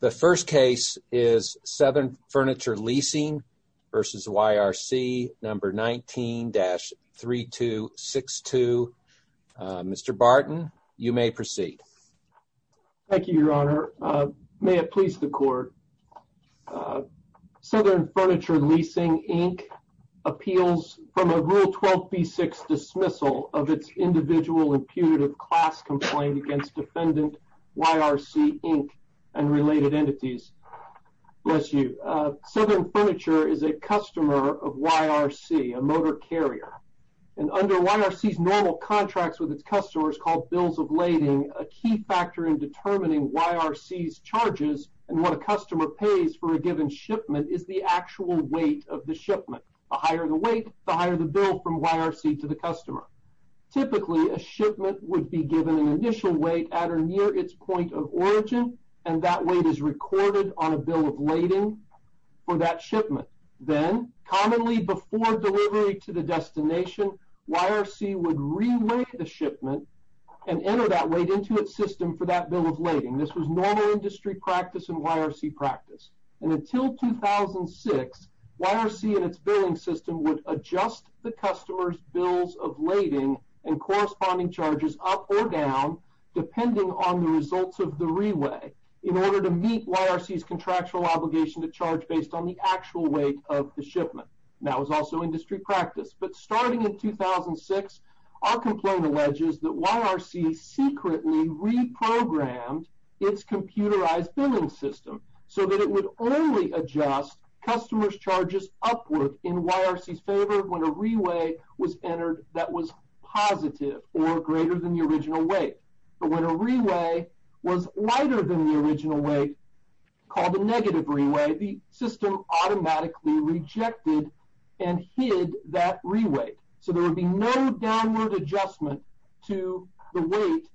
The first case is Southern Furniture Leasing v. YRC 19-3262. Mr. Barton, you may proceed. Thank you, Your Honor. May it please the Court, Southern Furniture Leasing, Inc. appeals from a Rule 12b6 dismissal of its individual imputative class complaint against defendant YRC, Inc. and related entities. Bless you. Southern Furniture is a customer of YRC, a motor carrier, and under YRC's normal contracts with its customers called bills of lading, a key factor in determining YRC's charges and what a customer pays for a given shipment is the actual weight of the shipment. The higher the weight, the higher the bill from YRC to the customer. Typically, a shipment would be given an initial weight at or near its point of origin, and that weight is recorded on a bill of lading for that shipment. Then, commonly before delivery to the destination, YRC would reweight the shipment and enter that weight into its system for that bill of lading. This was normal industry practice and YRC practice. And until 2006, YRC and its customers had to adjust the weight of their bills of lading and corresponding charges up or down depending on the results of the reweigh in order to meet YRC's contractual obligation to charge based on the actual weight of the shipment. That was also industry practice. But starting in 2006, our complaint alleges that YRC secretly reprogrammed its computerized billing system so that it would only adjust customers' charges upward in YRC's favor when a reweigh was entered that was positive or greater than the original weight. But when a reweigh was lighter than the original weight, called a negative reweigh, the system automatically rejected and hid that reweigh. So there would be no downward adjustment to the weight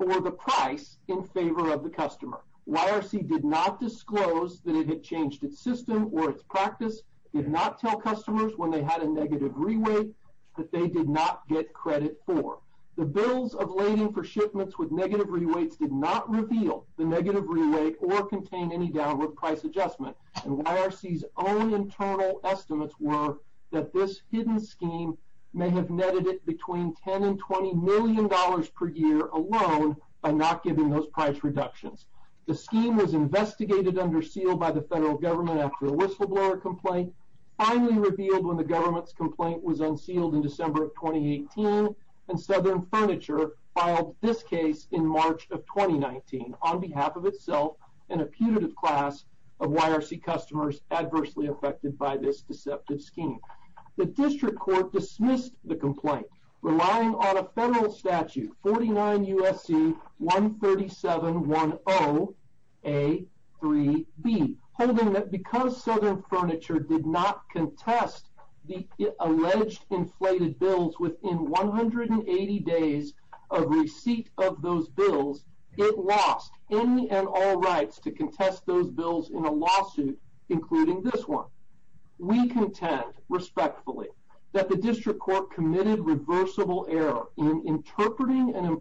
or the price in favor of the customer. YRC did not disclose that it had changed its system or its practice, did not tell customers when they had a negative reweigh that they did not get credit for. The bills of lading for shipments with negative reweighs did not reveal the negative reweigh or contain any downward price adjustment. And YRC's own internal estimates were that this hidden scheme may have netted it between 10 and 20 million dollars per year alone by not giving those price reductions. The scheme was investigated under seal by the federal government after a whistleblower complaint, finally revealed when the government's complaint was unsealed in December of 2018, and Southern Furniture filed this case in March of 2019 on behalf of itself and a putative class of YRC customers adversely affected by this deceptive scheme. The district court dismissed the complaint, relying on a federal statute, 49 USC 13710A3B, holding that because Southern Furniture did not contest the alleged inflated bills within 180 days of receipt of those bills, it lost any and all rights to contest those bills in a lawsuit, including this one. We contend respectfully that the district court committed reversible error in interpreting and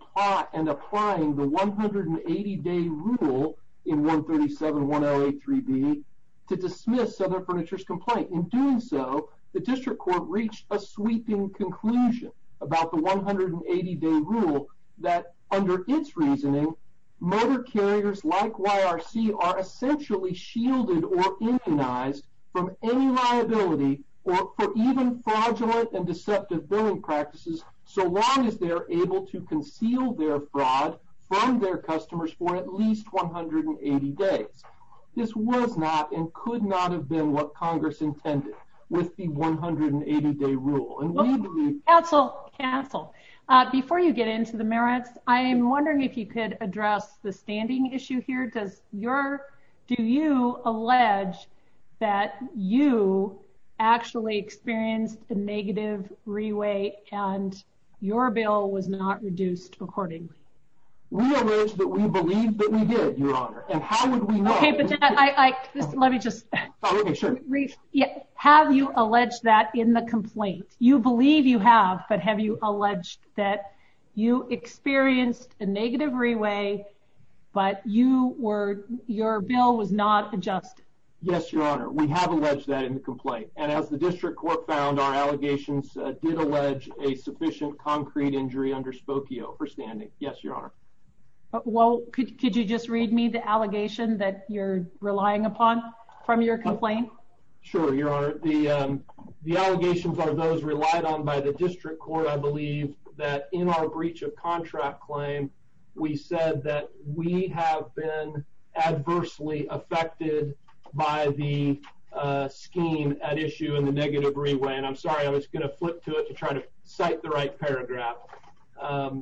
applying the 180 day rule in 13710A3B to dismiss Southern Furniture's complaint. In doing so, the district court reached a sweeping conclusion about the 180 day rule that under its reasoning, motor carriers like YRC are essentially shielded or immunized from any liability or for even fraudulent and deceptive billing practices so long as they're able to conceal their fraud from their customers for at least 180 days. This was not and could not have been what Congress intended with the 180 day rule. Okay, cancel, cancel. Before you get into the merits, I'm wondering if you could address the standing issue here. Do you allege that you actually experienced a negative re-weight and your bill was not reduced accordingly? We allege that we believe that we did, Your Honor, and how would we know? Okay, but let me just... Okay, sure. Have you alleged that in the complaint? You believe you have, but have you alleged that you experienced a negative re-weight, but your bill was not adjusted? Yes, Your Honor. We have alleged that in the complaint, and as the district court found, our allegations did allege a sufficient concrete injury under Spokio for standing. Yes, Your Honor. Well, could you just read me the allegation that you're relying upon from your complaint? Sure, Your Honor. The allegations are those relied on by the district court. I believe that in our breach of contract claim, we said that we have been adversely affected by the scheme at issue in the negative re-weight. And I'm sorry, I'm just going to flip to it to try to cite the right paragraph. Okay.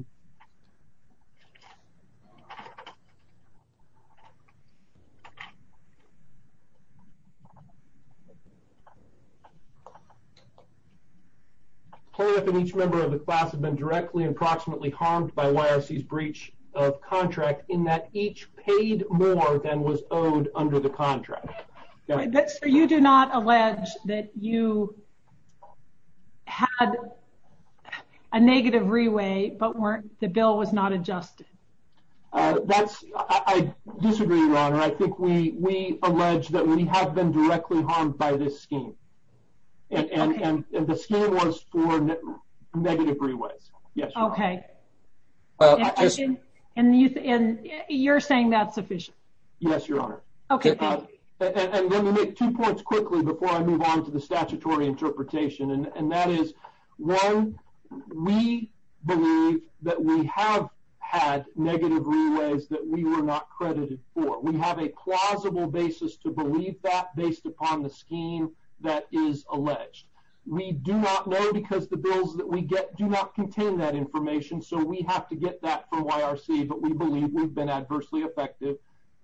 Plaintiff and each member of the class have been directly and proximately harmed by YRC's breach of contract in that each paid more than was owed under the contract. So you do not allege that you had a negative re-weight, but the bill was not adjusted? That's, I disagree, Your Honor. I think we allege that we have been directly harmed by this scheme. And the scheme was for negative re-weights. Yes, Your Honor. Okay. And you're saying that's sufficient? Yes, Your Honor. Okay. And let me make two points quickly before I move on to the statutory interpretation. And that is, one, we believe that we have had negative re-weights that we were not credited for. We have a plausible basis to believe that based upon the scheme that is alleged. We do not know because the bills that we get do not contain that information. So we have to get that information. We do not believe that we have been adversely harmed for YRC, but we believe we've been adversely affected,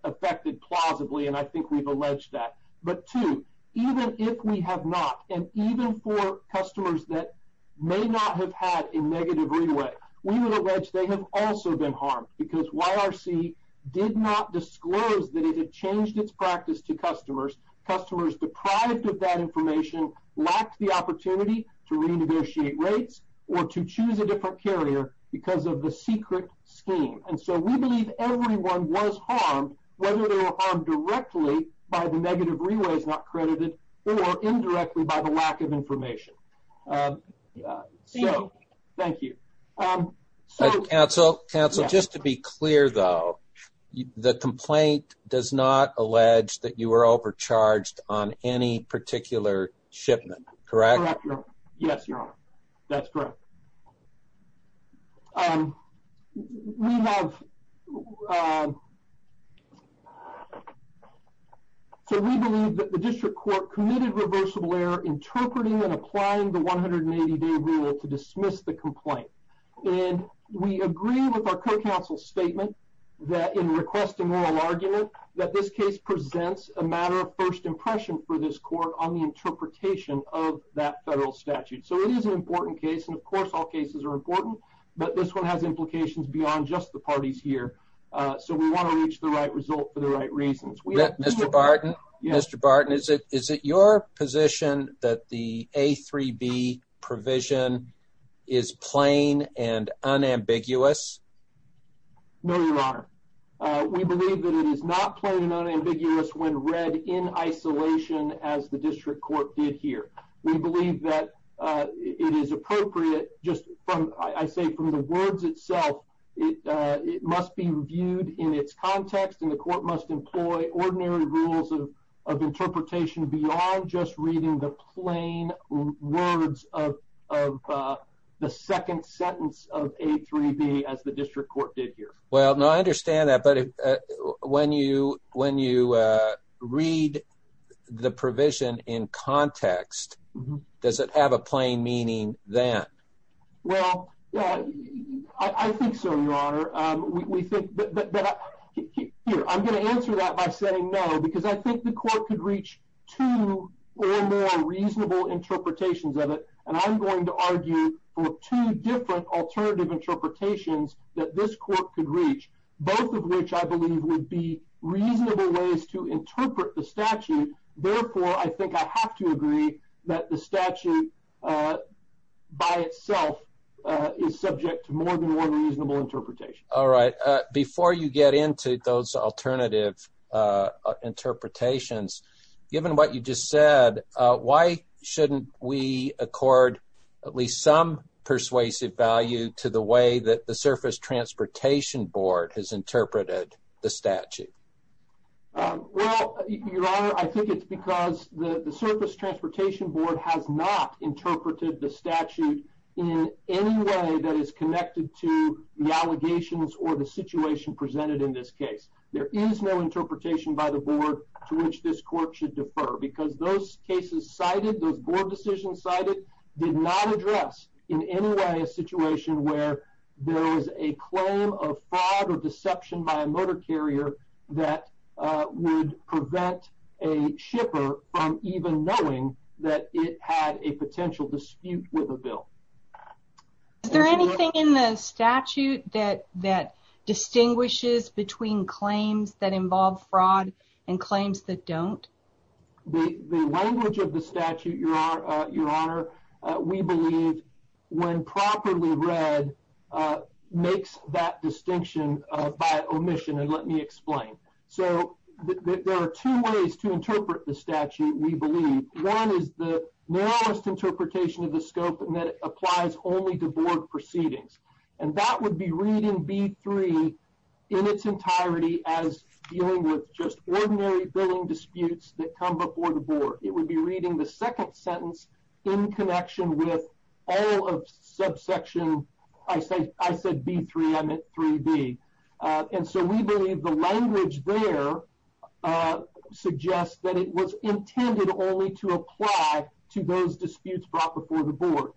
affected plausibly, and I think we've alleged that. But two, even if we have not, and even for customers that may not have had a negative re-weight, we would allege they have also been harmed because YRC did not disclose that it had changed its practice to customers. Customers deprived of that information lacked the opportunity to renegotiate rates or to choose a different carrier because of the secret scheme. And so we believe everyone was harmed, whether they were harmed directly by the negative re-weights not credited or indirectly by the lack of information. Thank you. Counsel, just to be clear though, the complaint does not allege that you were overcharged on any particular shipment, correct? Yes, your honor. That's correct. So we believe that the district court committed reversible error interpreting and applying the 180-day rule to dismiss the complaint. And we agree with our co-counsel's statement that in requesting oral argument, that this case presents a matter of first impression for this court on the interpretation of that federal statute. So it is an important case, and of course all cases are important, but this one has implications beyond just the parties here. So we want to reach the right result for the right reasons. Mr. Barton, Mr. Barton, is it your honor? We believe that it is not plain and unambiguous when read in isolation as the district court did here. We believe that it is appropriate just from, I say from the words itself, it must be reviewed in its context and the court must employ ordinary rules of interpretation beyond just reading the plain words of the second sentence of A3B as the district court did here. Well, no, I understand that. But when you read the provision in context, does it have a plain meaning then? Well, yeah, I think so, your honor. Here, I'm going to answer that by saying no, because I think the court could reach two or more reasonable interpretations of it, and I'm going to argue for two different alternative interpretations that this court could reach, both of which I believe would be reasonable ways to interpret the statute. Therefore, I think I have to agree that the statute by itself is subject to more than one reasonable interpretation. All right. Before you get into those alternative interpretations, given what you just said, why shouldn't we accord at least some persuasive value to the way that the Surface Transportation Board has interpreted the statute? Well, your honor, I think it's because the Surface Transportation Board has not interpreted the statute in any way that is connected to the allegations or the situation presented in this case. There is no interpretation by the board to which this court should defer, because those cases cited, those board decisions cited, did not address in any way a situation where there was a claim of fraud or deception by a motor carrier that would prevent a shipper from even knowing that it had a potential dispute with a bill. Is there anything in the statute that distinguishes between claims that involve fraud and claims that don't? The language of the statute, your honor, we believe when properly read makes that distinction by omission. And let me explain. So there are two ways to interpret the statute, we believe. One is the narrowest interpretation of the scope and that applies only to board proceedings. And that would be reading B3 in its entirety as dealing with just ordinary billing disputes that come before the board. It would be reading the second sentence in connection with all of subsection, I said B3, I meant 3B. And so we believe the language there suggests that it was intended only to apply to those disputes brought before the board.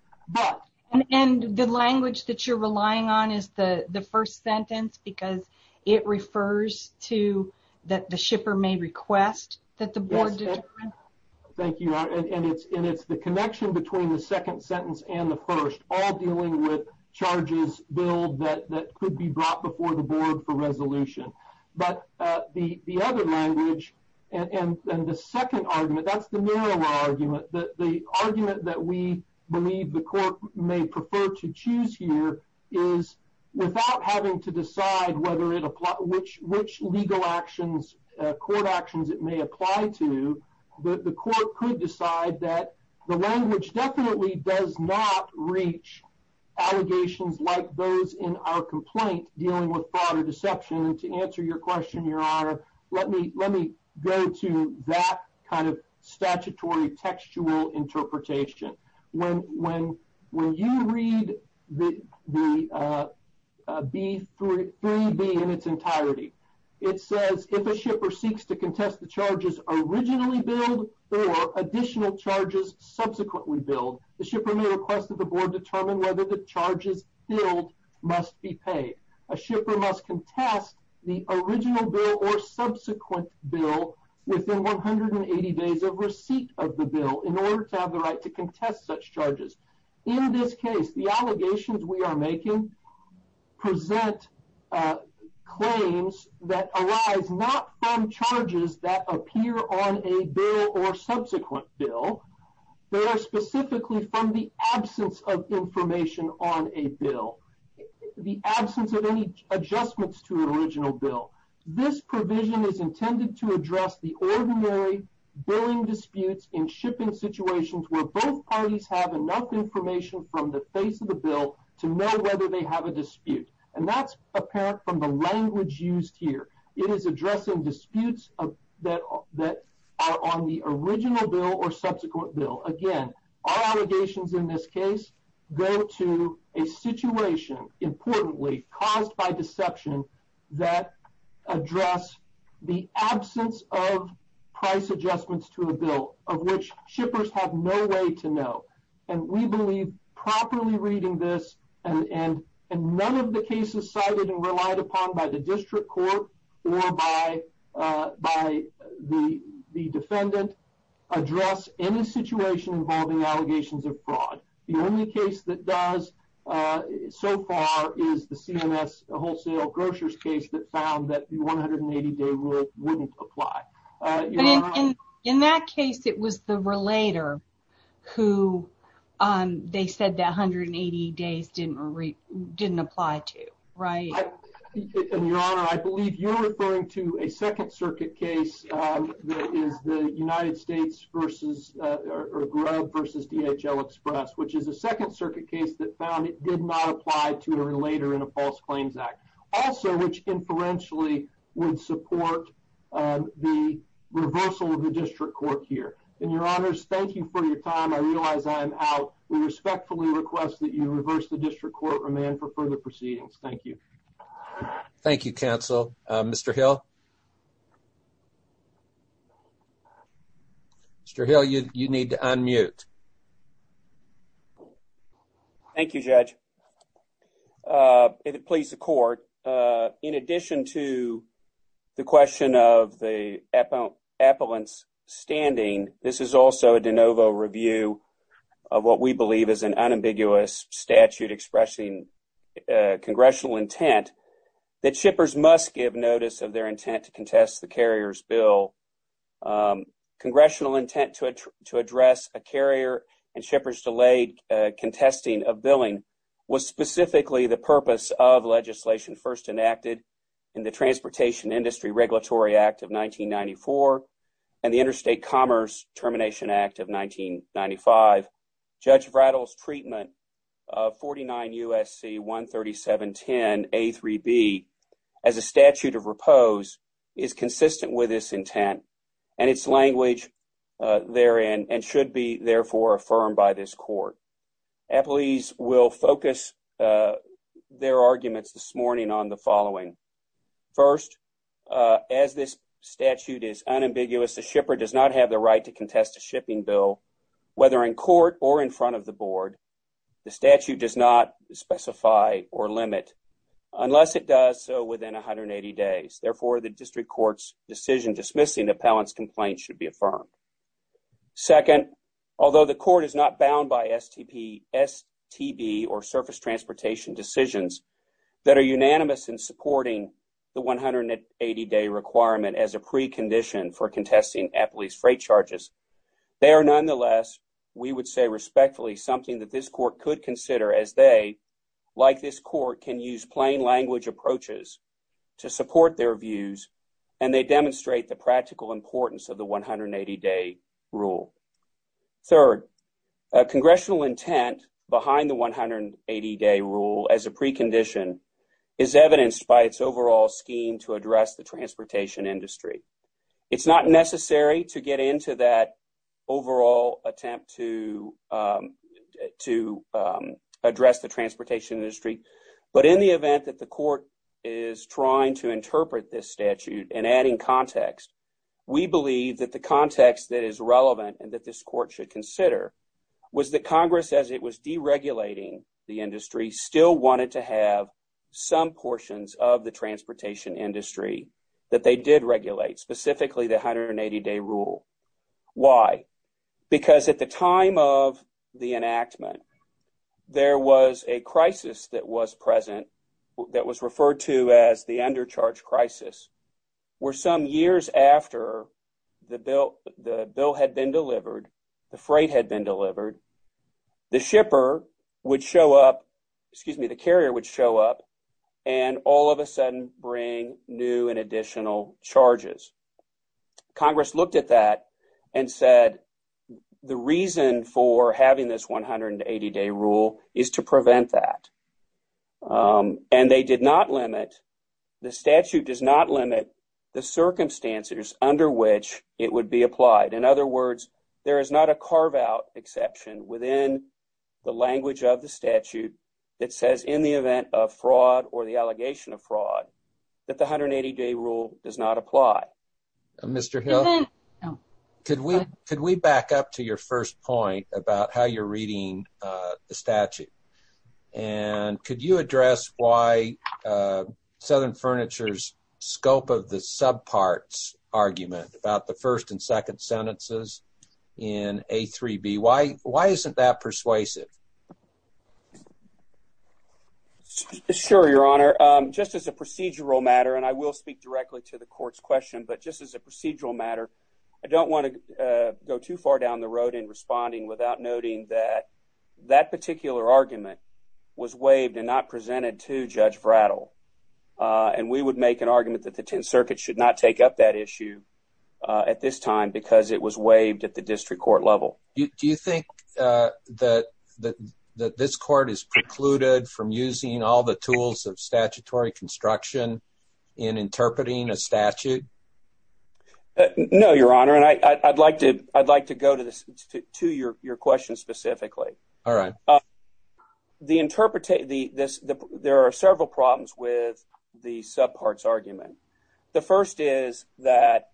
And the language that you're relying on is the the first sentence because it refers to that the shipper may request that the board... Thank you. And it's the connection between the second sentence and the first, all dealing with charges billed that could be brought before the board. And the second argument, that's the narrower argument, the argument that we believe the court may prefer to choose here is without having to decide whether it applies, which legal actions, court actions it may apply to, the court could decide that the language definitely does not reach allegations like those in our complaint dealing with fraud or deception. To answer your question, your honor, let me go to that kind of statutory textual interpretation. When you read the B3B in its entirety, it says if a shipper seeks to contest the charges originally billed or additional charges subsequently billed, the shipper may request that the board determine whether the charges billed must be paid. A shipper must contest the original bill or subsequent bill within 180 days of receipt of the bill in order to have the right to contest such charges. In this case, the allegations we are making present claims that arise not from charges that are originally billed. The absence of any adjustments to an original bill. This provision is intended to address the ordinary billing disputes in shipping situations where both parties have enough information from the face of the bill to know whether they have a dispute. And that's apparent from the language used here. It is addressing disputes that are on the original bill or subsequent bill. Again, our allegations in this case go to a situation, importantly, caused by deception that address the absence of price adjustments to a bill of which shippers have no way to know. And we believe properly reading this and none of the cases cited and relied upon by the district court or by the defendant address any situation involving allegations of fraud. The only case that does so far is the CMS wholesale grocers case that found that the 180-day rule wouldn't apply. In that case, it was the relator who they said that 180 days didn't apply to. Right. Your Honor, I believe you're referring to a Second Circuit case that is the United States versus or Grubb versus DHL Express, which is a Second Circuit case that found it did not apply to a relator in a false claims act. Also, which inferentially would support the reversal of the district court here. And, Your Honors, thank you for your time. I realize I am out. We respectfully request that you reverse the district court remand for further proceedings. Thank you. Thank you, counsel. Mr. Hill? Mr. Hill, you need to unmute. Thank you, Judge. If it pleases the court, in addition to the question of the statute expressing congressional intent that shippers must give notice of their intent to contest the carrier's bill, congressional intent to address a carrier and shippers delayed contesting of billing was specifically the purpose of legislation first enacted in the Transportation Industry Regulatory Act of 1994 and the Interstate Commerce Termination Act of 1995. Judge Vratil's treatment of 49 U.S.C. 13710 A.3.B. as a statute of repose is consistent with this intent and its language therein and should be, therefore, affirmed by this court. Appellees will focus their arguments this morning on the following. First, as this statute is unambiguous, a shipper does not have the right to contest a shipping bill whether in court or in front of the board. The statute does not specify or limit unless it does so within 180 days. Therefore, the district court's decision dismissing the appellant's complaint should be affirmed. Second, although the court is not bound by STP, STB, or surface transportation decisions that are unanimous in supporting the 180-day requirement as a precondition for contesting appellee's freight charges, they are nonetheless, we would say respectfully, something that this court could consider as they, like this court, can use plain language approaches to support their views and they demonstrate the practical importance of the 180-day rule. Third, congressional intent behind the 180-day rule as a precondition is evidenced by its overall scheme to address the transportation industry. It's not necessary to get into that overall attempt to address the transportation industry, but in the event that the court is trying to interpret this statute and adding context, we believe that the context that is relevant and that this court should consider was that Congress, as it was deregulating the industry, still wanted to have some portions of the transportation industry that they did regulate, specifically the 180-day rule. Why? Because at the time of the enactment, there was a crisis that was present that was referred to as the undercharge crisis, where some years after the bill had been approved, the carrier would show up and all of a sudden bring new and additional charges. Congress looked at that and said, the reason for having this 180-day rule is to prevent that. And they did not limit, the statute does not limit the circumstances under which it would apply. In other words, there is not a carve-out exception within the language of the statute that says in the event of fraud or the allegation of fraud that the 180-day rule does not apply. Mr. Hill, could we back up to your first point about how you're reading the statute, and could you address why Southern Furniture's scope of the subparts argument about the first and second sentences in A3B, why isn't that persuasive? Sure, Your Honor. Just as a procedural matter, and I will speak directly to the court's question, but just as a procedural matter, I don't want to go too far down the road in responding without noting that that particular argument was waived and not presented to Judge Vratil. And we would make an argument that the Tenth Circuit should not take up that issue at this time because it was waived at the district court level. Do you think that this court is precluded from using all the tools of statutory construction in interpreting a statute? No, Your Honor, and I'd like to go to your question specifically. All right. There are several problems with the subparts argument. The first is that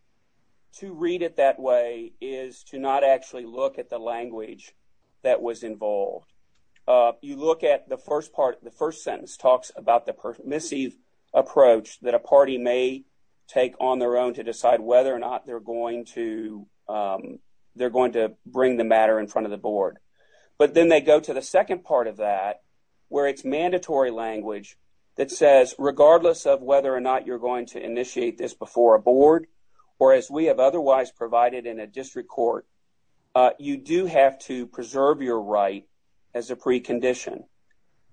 to read it that way is to not actually look at the language that was involved. You look at the first part, the first sentence talks about the permissive approach that a party may take on their own to decide whether or not they're going to bring the matter in front of the board. But then they go to the second part of that, where it's mandatory language that says, regardless of whether or not you're going to initiate this before a board, or as we have otherwise provided in a district court, you do have to preserve your right as a precondition.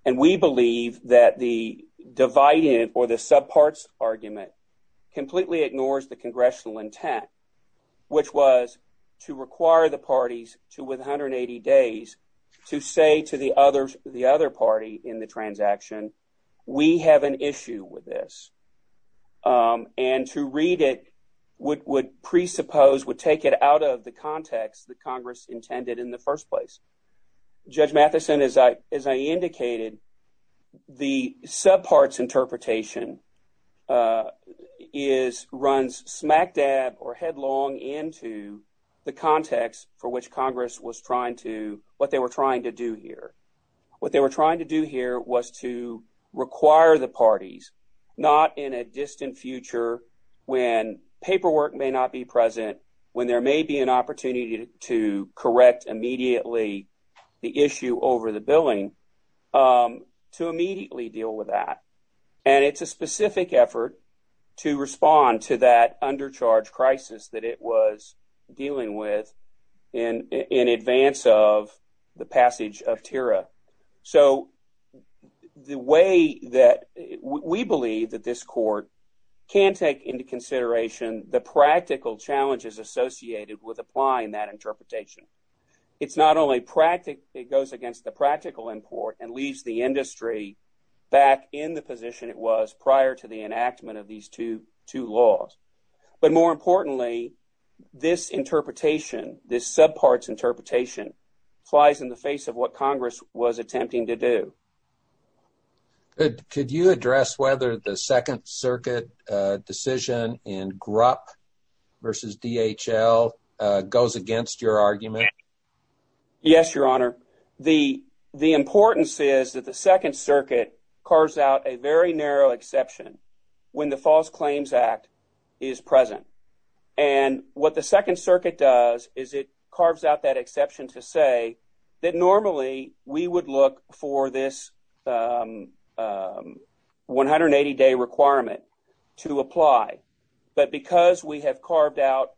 And we believe that the divided or the subparts argument completely ignores the congressional intent, which was to require the parties to, with 180 days, to say to the other party in the transaction, we have an issue with this. And to read it would presuppose, would take it out of the context that Congress intended in the first place. Judge Matheson, as I indicated, the headlong into the context for which Congress was trying to, what they were trying to do here. What they were trying to do here was to require the parties, not in a distant future, when paperwork may not be present, when there may be an opportunity to correct immediately the issue over the billing, to immediately deal with that. And it's a specific effort to respond to that undercharge crisis that it was dealing with in advance of the passage of TIRA. So the way that we believe that this court can take into consideration the practical challenges associated with applying that interpretation. It's not only practical, it goes against the two laws. But more importantly, this interpretation, this subparts interpretation flies in the face of what Congress was attempting to do. Could you address whether the Second Circuit decision in GRUP versus DHL goes against your argument? Yes, Your Honor. The importance is that the Second Circuit carves out a very narrow exception when the False Claims Act is present. And what the Second Circuit does is it carves out that exception to say that normally we would look for this 180-day requirement to apply. But because we have carved out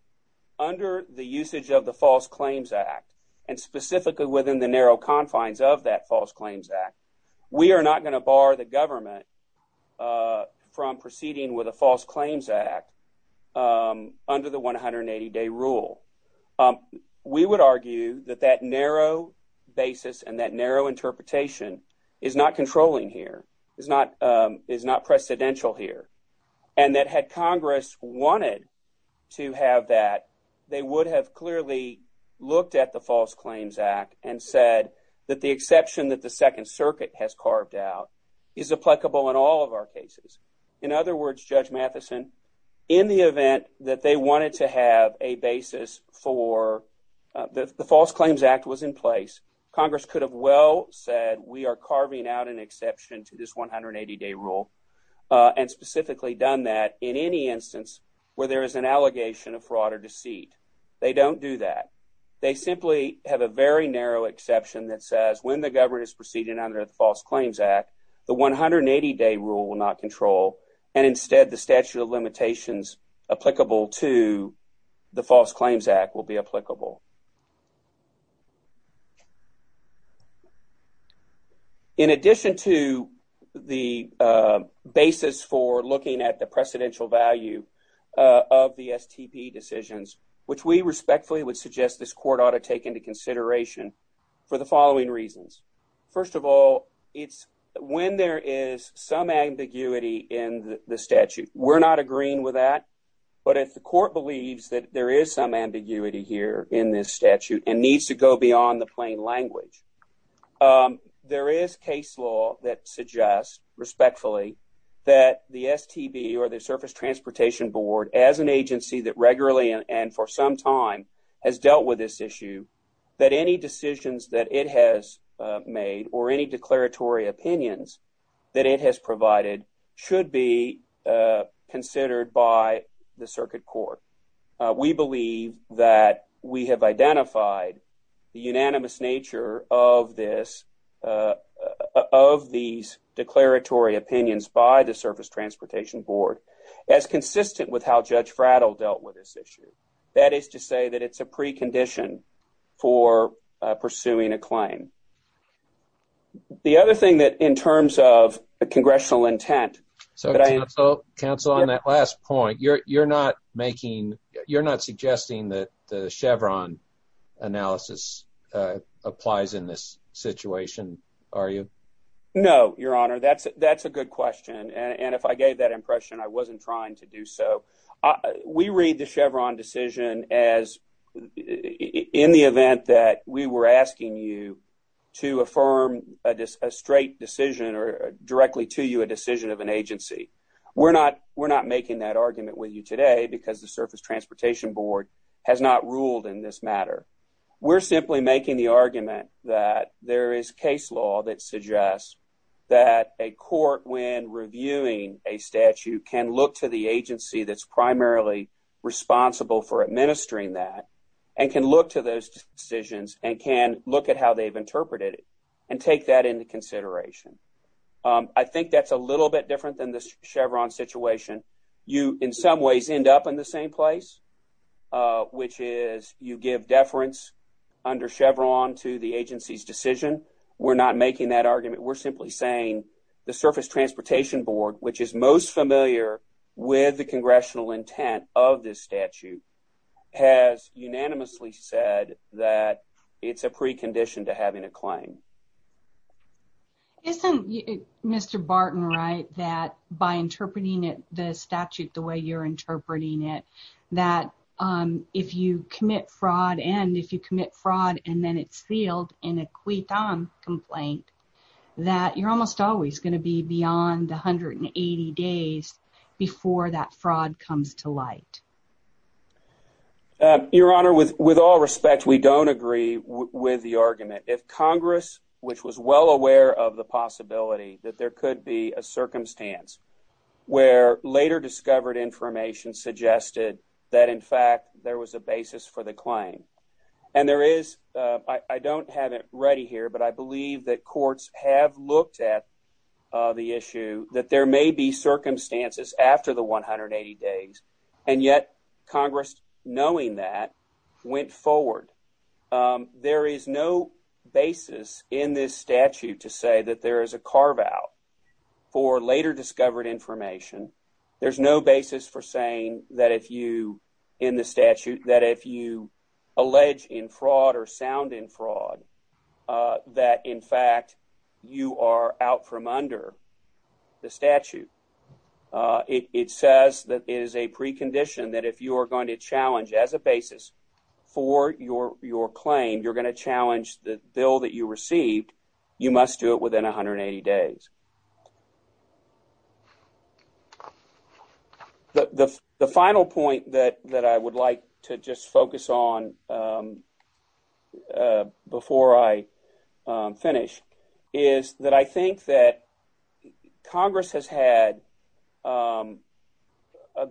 under the usage of the False Claims Act, and specifically within the narrow confines of that False Claims Act, we are not going to bar the government from proceeding with a False Claims Act under the 180-day rule. We would argue that that narrow basis and that narrow interpretation is not controlling here, is not precedential here. And that had Congress wanted to have that, they would have clearly looked at the False Claims Act and said that the exception that the Second Circuit has carved out is applicable in all of our cases. In other words, Judge Matheson, in the event that they wanted to have a basis for the False Claims Act was in place, Congress could have well said we are carving out an exception to this 180-day rule and specifically done that in any instance where there is an allegation of fraud or deceit. They don't do that. They simply have a very narrow exception that says when the government is proceeding under the False Claims Act, the 180-day rule will not control and instead the statute of limitations applicable to the False Claims Act will be applicable. In addition to the basis for looking at the precedential value of the STP decisions, which we respectfully would suggest this court ought to take into consideration for the following reasons. First of all, it's when there is some ambiguity in the statute. We're not agreeing with that, but if the court believes that there is some ambiguity here in this statute and needs to go beyond the plain language, there is case law that suggests respectfully that the STP or the Surface Transportation Board as an agency that regularly and for some time has dealt with this issue, that any decisions that it has made or any declaratory opinions that it has provided should be considered by the circuit court. We believe that we have identified the unanimous nature of these declaratory opinions by the Surface Transportation Board as consistent with how Judge Frattle dealt with this issue. That is to say that it's a precondition for pursuing a claim. The other thing that in terms of a congressional intent... So, counsel, on that last point, you're not suggesting that the Chevron analysis applies in this situation, are you? No, Your Honor. That's a good question. And if I gave that impression, I wasn't trying to do so. We read the Chevron decision as in the event that we were asking you to affirm a straight decision or directly to you a decision of an agency. We're not making that argument with you today because the Surface Transportation Board has not ruled in this matter. We're simply making the argument that there is case law that suggests that a court, when primarily responsible for administering that, can look to those decisions and can look at how they've interpreted it and take that into consideration. I think that's a little bit different than the Chevron situation. You, in some ways, end up in the same place, which is you give deference under Chevron to the agency's decision. We're not making that argument. We're simply saying the Surface Transportation Board, which is most familiar with the congressional intent of this statute, has unanimously said that it's a precondition to having a claim. Isn't Mr. Barton right that by interpreting the statute the way you're interpreting it, that if you commit fraud and if you commit fraud and then it's sealed in a acquittal complaint, that you're almost always going to be beyond 180 days before that fraud comes to light? Your Honor, with all respect, we don't agree with the argument. If Congress, which was well aware of the possibility that there could be a circumstance where later discovered information suggested that, in fact, there was a basis for the claim, and there is, I don't have it ready here, but I believe that courts have looked at the issue that there may be circumstances after the 180 days, and yet Congress, knowing that, went forward. There is no basis in this statute to say that there is a carve-out for later discovered information. There's no basis for saying that if you, in the statute, that if you allege in fraud or sound in fraud, that, in fact, you are out from under the statute. It says that it is a precondition that if you are going to challenge as a basis for your claim, you're going to challenge the bill that you received, you must do it within 180 days. The final point that I would like to just focus on before I finish is that I think that Congress has had a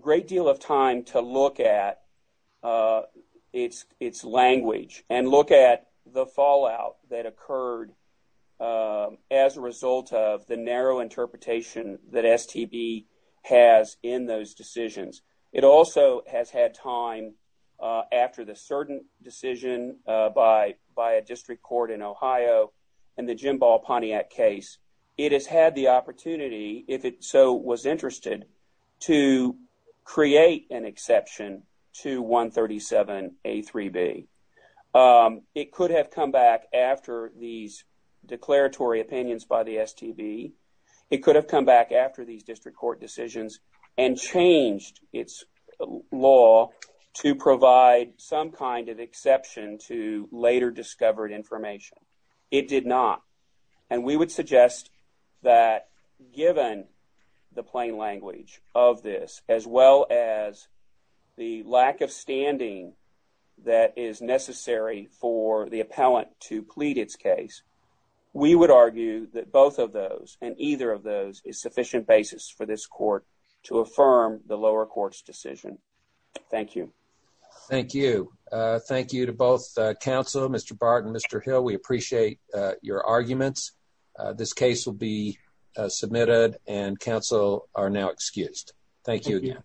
great deal of time to look at its language and look at the fallout that occurred as a result of the narrow interpretation that STB has in those decisions. It also has had time after the certain decision by a district court in Ohio and the Jimball-Pontiac case, it has had the opportunity, if it so was interested, to create an exception to 137A3B. It could have come back after these declaratory opinions by the STB. It could have come back after these district court decisions and changed its law to provide some kind of exception to later discovered information. It did not. And we would suggest that given the plain language of this, as well as the lack of standing that is necessary for the appellant to plead its case, we would argue that both of those and either of those is sufficient basis for this court to affirm the lower court's decision. Thank you. Thank you. Thank you to both counsel, Mr. Bart and Mr. Hill. We appreciate your arguments. This case will be submitted and counsel are now excused. Thank you again.